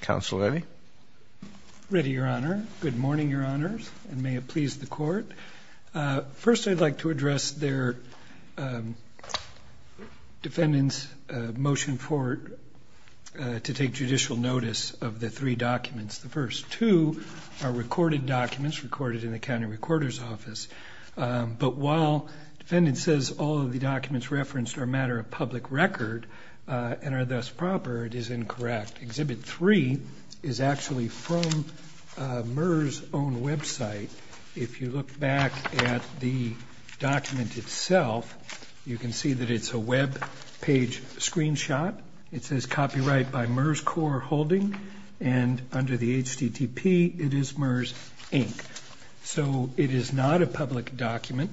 counsel Eddie ready your honor good morning your honors and may it please the court first I'd like to address their defendants motion for to take judicial notice of the three documents the first two are recorded documents recorded in the county recorder's office but while defendant says all of the documents referenced are a matter of public record and are thus proper it is incorrect exhibit 3 is actually from MERS own website if you look back at the document itself you can see that it's a web page screenshot it says copyright by MERS core holding and under the HTTP it is so it is not a public document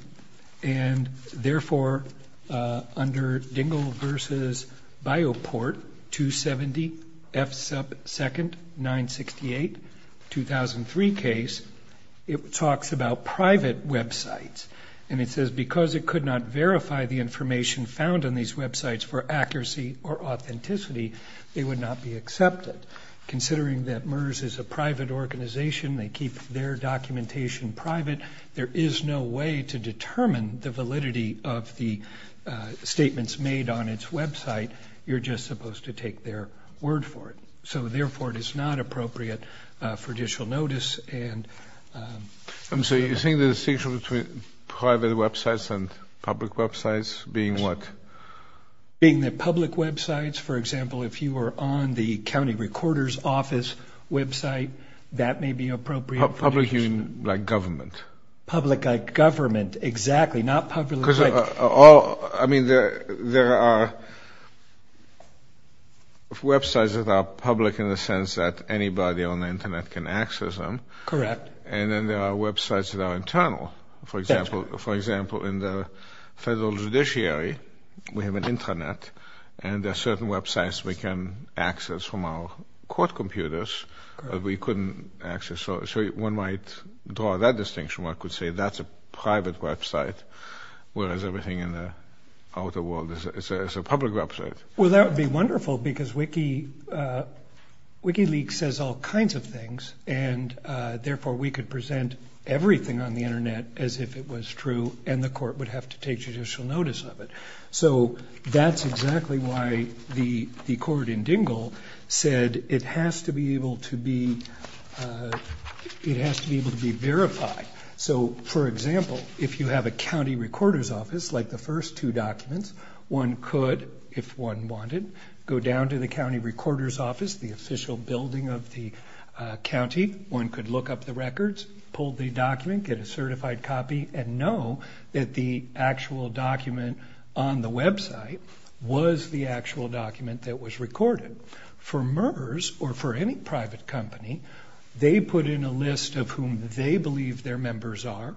and therefore under dingle vs. Bioport 270 F sub second 968 2003 case it talks about private websites and it says because it could not verify the information found on these websites for accuracy or authenticity they would not be accepted considering that MERS is a keep their documentation private there is no way to determine the validity of the statements made on its website you're just supposed to take their word for it so therefore it is not appropriate for judicial notice and I'm so you think the distinction between private websites and public websites being what being the public websites for example if you were on the county recorder's office website that may be appropriate public you mean like government public government exactly not public because all I mean there there are websites that are public in the sense that anybody on the internet can access them correct and then there are websites that are internal for example for example in the federal judiciary we have an internet and there are certain websites we can access from our court computers we couldn't access so one might draw that distinction I could say that's a private website whereas everything in the outer world is a public website well that would be wonderful because wiki wiki leak says all kinds of things and therefore we could present everything on the internet as if it was true and the court would have to take judicial notice of it so that's exactly why the the court in dingle said it has to be able to be it has to be able to be verified so for example if you have a county recorder's office like the first two documents one could if one wanted go down to the county recorder's office the official building of the county one could look up the records pull the document get a actual document on the website was the actual document that was recorded for murders or for any private company they put in a list of whom they believe their members are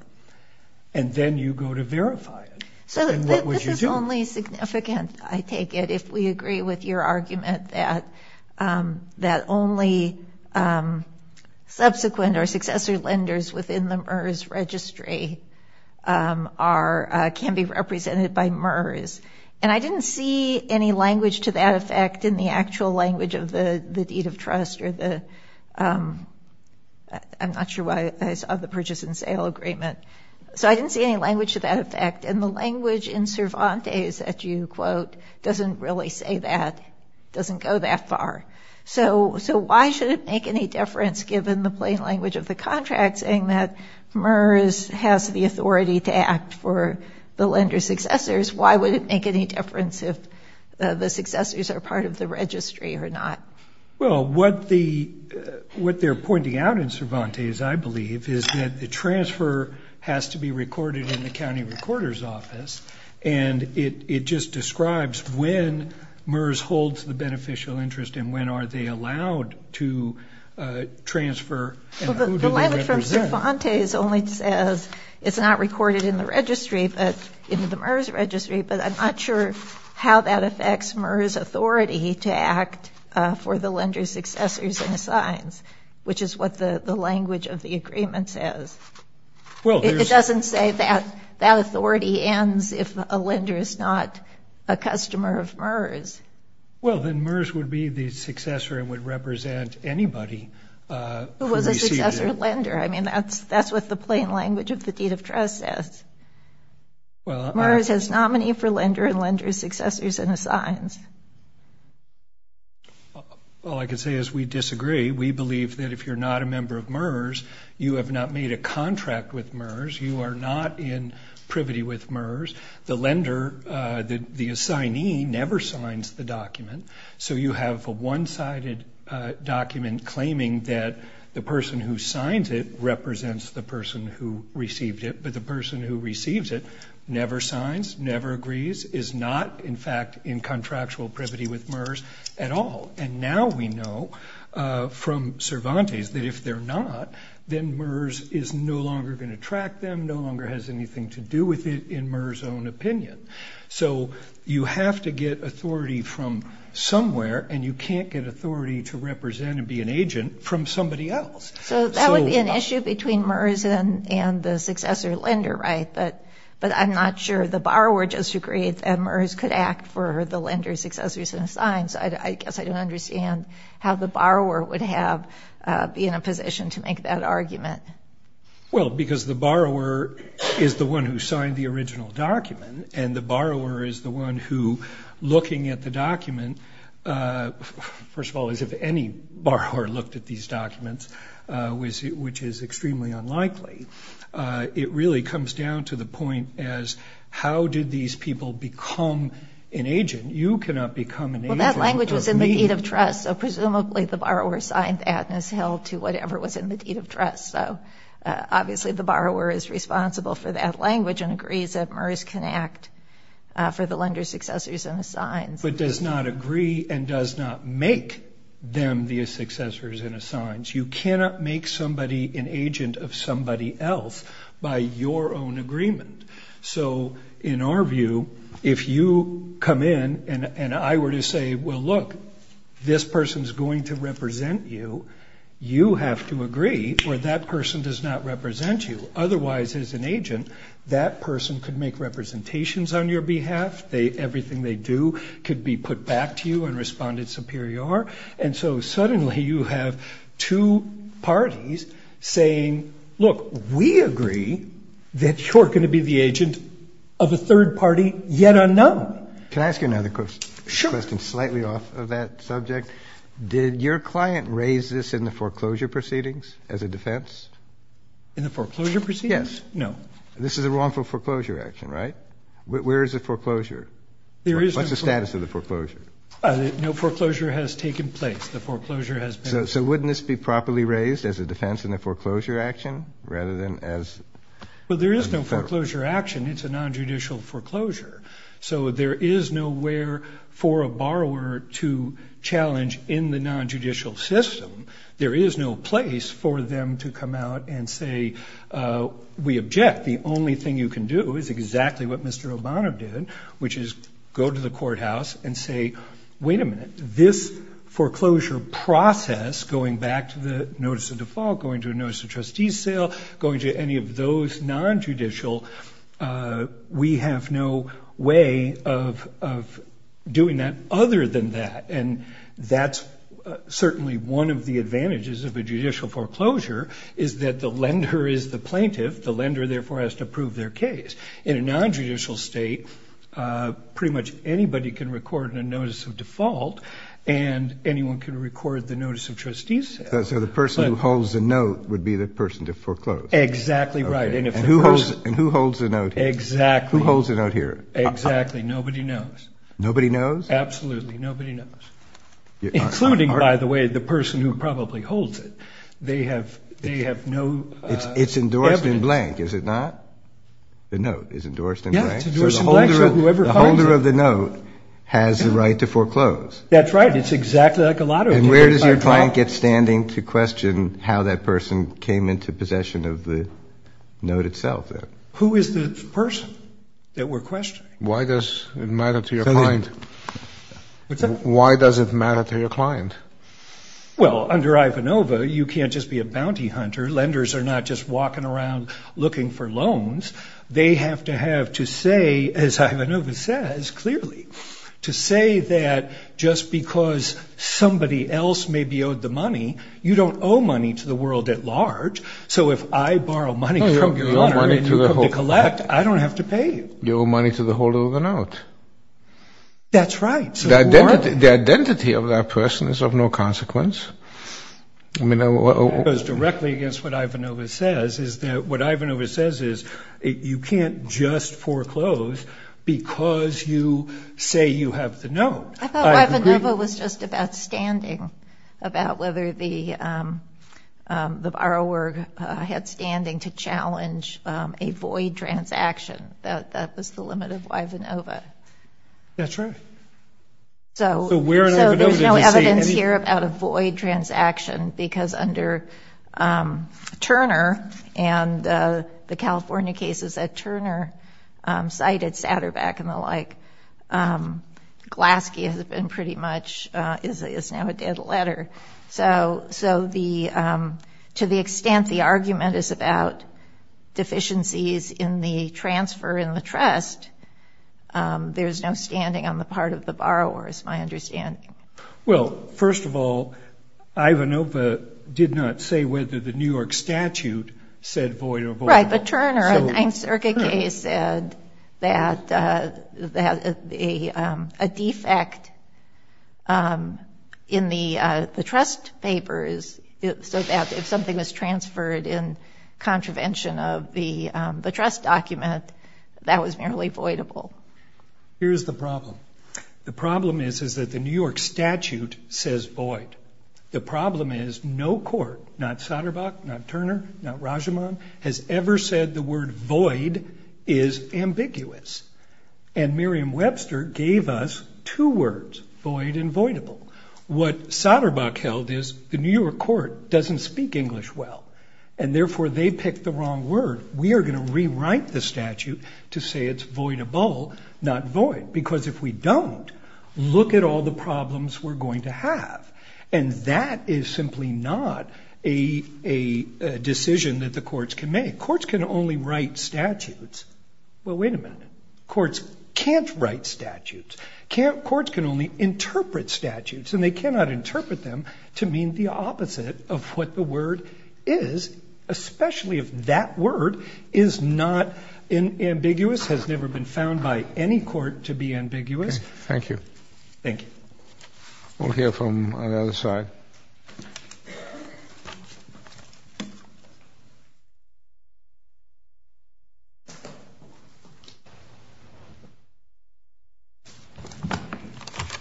and then you go to verify it so this is only significant I take it if we agree with your argument that that only subsequent or successor lenders within the MERS registry are can be represented by murders and I didn't see any language to that effect in the actual language of the the deed of trust or the I'm not sure why I saw the purchase and sale agreement so I didn't see any language to that effect and the language in Cervantes that you quote doesn't really say that doesn't go that far so so why should it make any difference given the plain language of the contract saying that MERS has the authority to act for the lender successors why would it make any difference if the successors are part of the registry or not well what the what they're pointing out in Cervantes I believe is that the transfer has to be recorded in the county recorder's office and it just describes when MERS holds the beneficial interest and when are they allowed to transfer only says it's not recorded in the registry but into the MERS registry but I'm not sure how that affects MERS authority to act for the lenders successors and signs which is what the the language of the agreement says well it doesn't say that that authority ends if a lender is not a customer of MERS well then MERS would be the successor and would represent anybody who was a lender I mean that's that's what the plain language of the deed of trust says well MERS has nominee for lender and lenders successors and assigns well I can say is we disagree we believe that if you're not a member of MERS you have not made a contract with privity with MERS the lender that the assignee never signs the document so you have a one-sided document claiming that the person who signs it represents the person who received it but the person who receives it never signs never agrees is not in fact in contractual privity with MERS at all and now we know from Cervantes that if they're not then MERS is no longer going to track them no longer has anything to do with it in MERS own opinion so you have to get authority from somewhere and you can't get authority to represent and be an agent from somebody else so that would be an issue between MERS and and the successor lender right but but I'm not sure the borrower just agreed that MERS could act for the lender successors and signs I guess I don't understand how the borrower would have be in a position to make that argument well because the is the one who signed the original document and the borrower is the one who looking at the document first of all as if any borrower looked at these documents was it which is extremely unlikely it really comes down to the point as how did these people become an agent you cannot become an agent that language was in the deed of trust so presumably the borrower signed that and is held to whatever was in the deed of trust so obviously the borrower is responsible for that language and agrees that MERS can act for the lender successors and signs but does not agree and does not make them the successors and assigns you cannot make somebody an agent of somebody else by your own agreement so in our view if you come in and and I were to say well look this person is going to represent you you have to agree or that person does not present you otherwise as an agent that person could make representations on your behalf they everything they do could be put back to you and responded superior and so suddenly you have two parties saying look we agree that you're going to be the agent of a third party yet unknown can I ask you another question slightly off of that subject did your client raise this in the foreclosure proceedings no this is a wrongful foreclosure action right where is the foreclosure there is the status of the foreclosure no foreclosure has taken place the foreclosure has so wouldn't this be properly raised as a defense in the foreclosure action rather than as well there is no foreclosure action it's a non-judicial foreclosure so there is nowhere for a borrower to challenge in the non-judicial system there is no place for them to come out and say we object the only thing you can do is exactly what mr. Obama did which is go to the courthouse and say wait a minute this foreclosure process going back to the notice of default going to a notice of trustees sale going to any of those non-judicial we have no way of doing that other than that and that's certainly one of the advantages of a judicial foreclosure is that the lender is the plaintiff the lender therefore has to prove their case in a non-judicial state pretty much anybody can record in a notice of default and anyone can record the notice of trustees so the person who holds a note would be the person to foreclose exactly right and if who holds and who holds a note exactly holds it out here exactly nobody knows nobody knows absolutely nobody including by the way the person who probably holds it they have they have no it's it's endorsed in blank is it not the note is endorsed in the holder of the note has the right to foreclose that's right it's exactly like a lot of where does your client get standing to question how that person came into possession of the note itself who is the person that we're questioning why does it matter to your mind why does it matter to your client well under Ivanova you can't just be a bounty hunter lenders are not just walking around looking for loans they have to have to say as Ivanova says clearly to say that just because somebody else may be owed the money you don't owe money to the world at large so if I borrow money collect I don't have to pay you money to the holder of the note that's right the identity of that person is of no consequence I mean it was directly against what Ivanova says is that what Ivanova says is it you can't just foreclose because you say you have to know it was just about standing about whether the the borrower had standing to Ivanova that's right so there's no evidence here about a void transaction because under Turner and the California cases that Turner cited Satterbeck and the like Glaske has been pretty much is now a dead letter so so the to the there's no standing on the part of the borrower is my understanding well first of all Ivanova did not say whether the New York statute said void of right but Turner and I'm circuit case said that that a defect in the the trust papers so that if something was transferred in contravention of the the trust document that was merely void of all here's the problem the problem is is that the New York statute says void the problem is no court not Satterbeck not Turner not Raja mom has ever said the word void is ambiguous and Miriam Webster gave us two words void and void of all what Satterbeck held is the New York court doesn't speak English well and therefore they picked the wrong word we are going to rewrite the statute to say it's void of all not void because if we don't look at all the problems we're going to have and that is simply not a decision that the courts can make courts can only write statutes well wait a minute courts can't write statutes can't courts can only interpret statutes and they cannot interpret them to mean the opposite of what the word is especially if that word is not in ambiguous has never been found by any court to be ambiguous thank you thank you we'll hear from the other side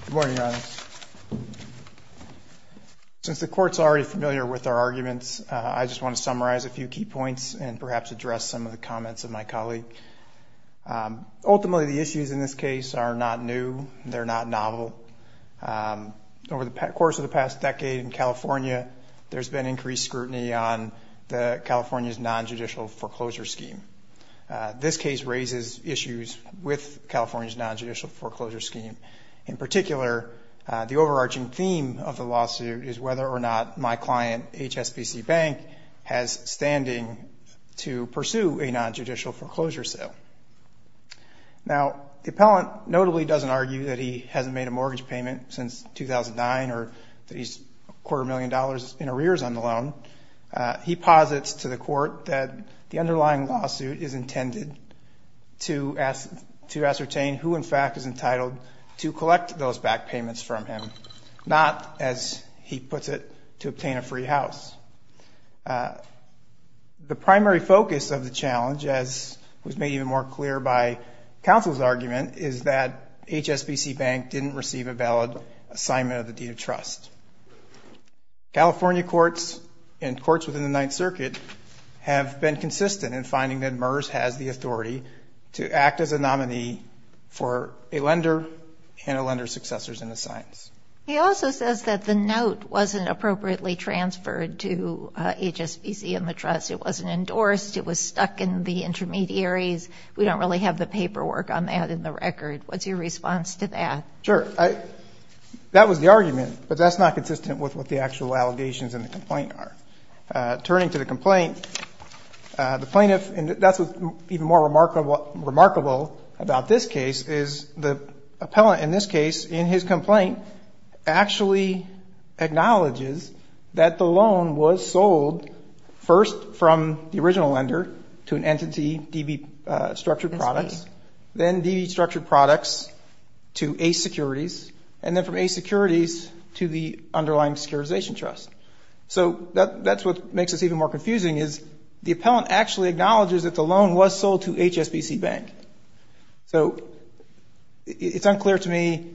good morning since the courts already familiar with our arguments I just want to summarize a few key points and perhaps address some of the comments of my colleague ultimately the issues in this case are not new they're not novel over the course of the past decade in California there's been increased scrutiny on the California's non-judicial foreclosure scheme this case raises issues with California's non-judicial foreclosure scheme in particular the overarching theme of the lawsuit is whether or not my client HSBC Bank has standing to pursue a non-judicial foreclosure sale now the appellant notably doesn't argue that he hasn't made a mortgage payment since 2009 or that he's a quarter million dollars in arrears on the loan he posits to the court that the underlying lawsuit is intended to ask to ascertain who in fact is entitled to collect those back payments from him not as he puts it to obtain a free house the primary focus of the challenge as was made even more clear by counsel's argument is that HSBC Bank didn't receive a valid assignment of the deed of trust California courts and courts within the Ninth Circuit have been consistent in finding that MERS has the authority to act as a nominee for a lender and a lender successors in the science he also says that the note wasn't appropriately transferred to HSBC in the trust it wasn't endorsed it was stuck in the intermediaries we don't really have the paperwork on that in the record what's your response to that sure I that was the argument but that's not consistent with what the actual allegations in the complaint are turning to the complaint the plaintiff and that's what even more remarkable remarkable about this case is the appellant in this case in his complaint actually acknowledges that the loan was sold first from the original lender to an entity DB structured products then DB structured products to a securities and then from a securities to the underlying securitization trust so that that's what makes us even more confusing is the appellant actually acknowledges that the loan was sold to HSBC Bank so it's clear to me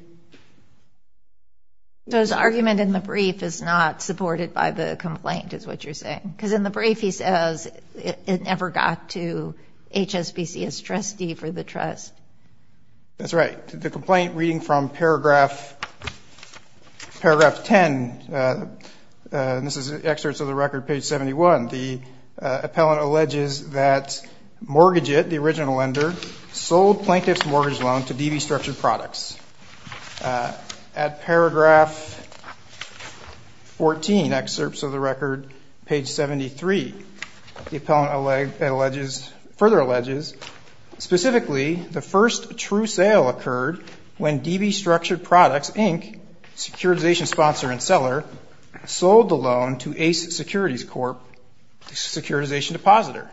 those argument in the brief is not supported by the complaint is what you're saying because in the brief he says it never got to HSBC as trustee for the trust that's right the complaint reading from paragraph paragraph 10 this is excerpts of the record page 71 the appellant alleges that mortgage it the at paragraph 14 excerpts of the record page 73 the appellant alleges further alleges specifically the first true sale occurred when DB structured products Inc securitization sponsor and seller sold the loan to ace securities Corp securitization depositor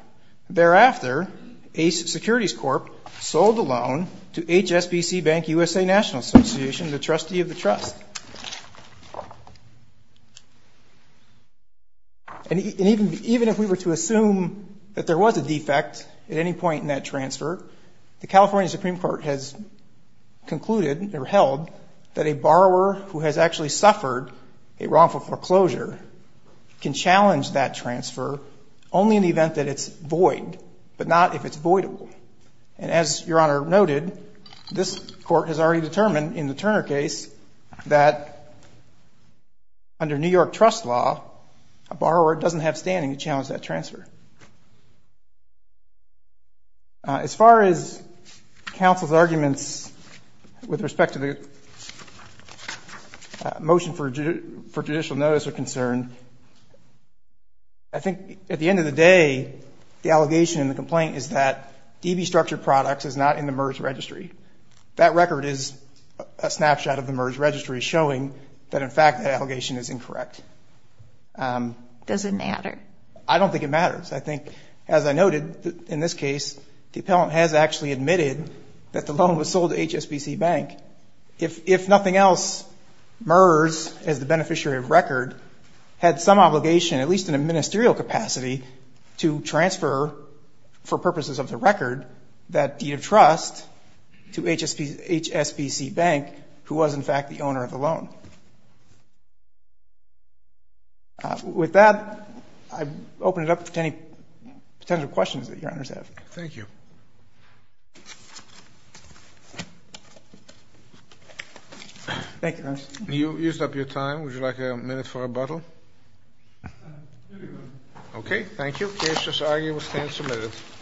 thereafter ace securities Corp sold the loan to HSBC Bank USA National Association the trustee of the trust and even even if we were to assume that there was a defect at any point in that transfer the California Supreme Court has concluded or held that a borrower who has actually suffered a wrongful foreclosure can challenge that transfer only in the event that it's void but not if it's voidable and as your honor noted this court has already determined in the Turner case that under New York trust law a borrower doesn't have standing to challenge that transfer as far as counsel's arguments with respect to the motion for judicial notice are concerned I think at the end of the day the allegation in the complaint is that DB structured products is not in the merge registry that record is a snapshot of the merge registry showing that in fact the allegation is incorrect does it matter I don't think it matters I think as I noted in this case the appellant has actually admitted that the loan was sold HSBC Bank if if nothing else MERS as the beneficiary of record had some obligation at least in a that deed of trust to HSBC Bank who was in fact the owner of the loan with that I open it up to any potential questions that your honors have thank you thank you you used up your time would you like a minute for a bottle okay thank you cases are you will stand submitted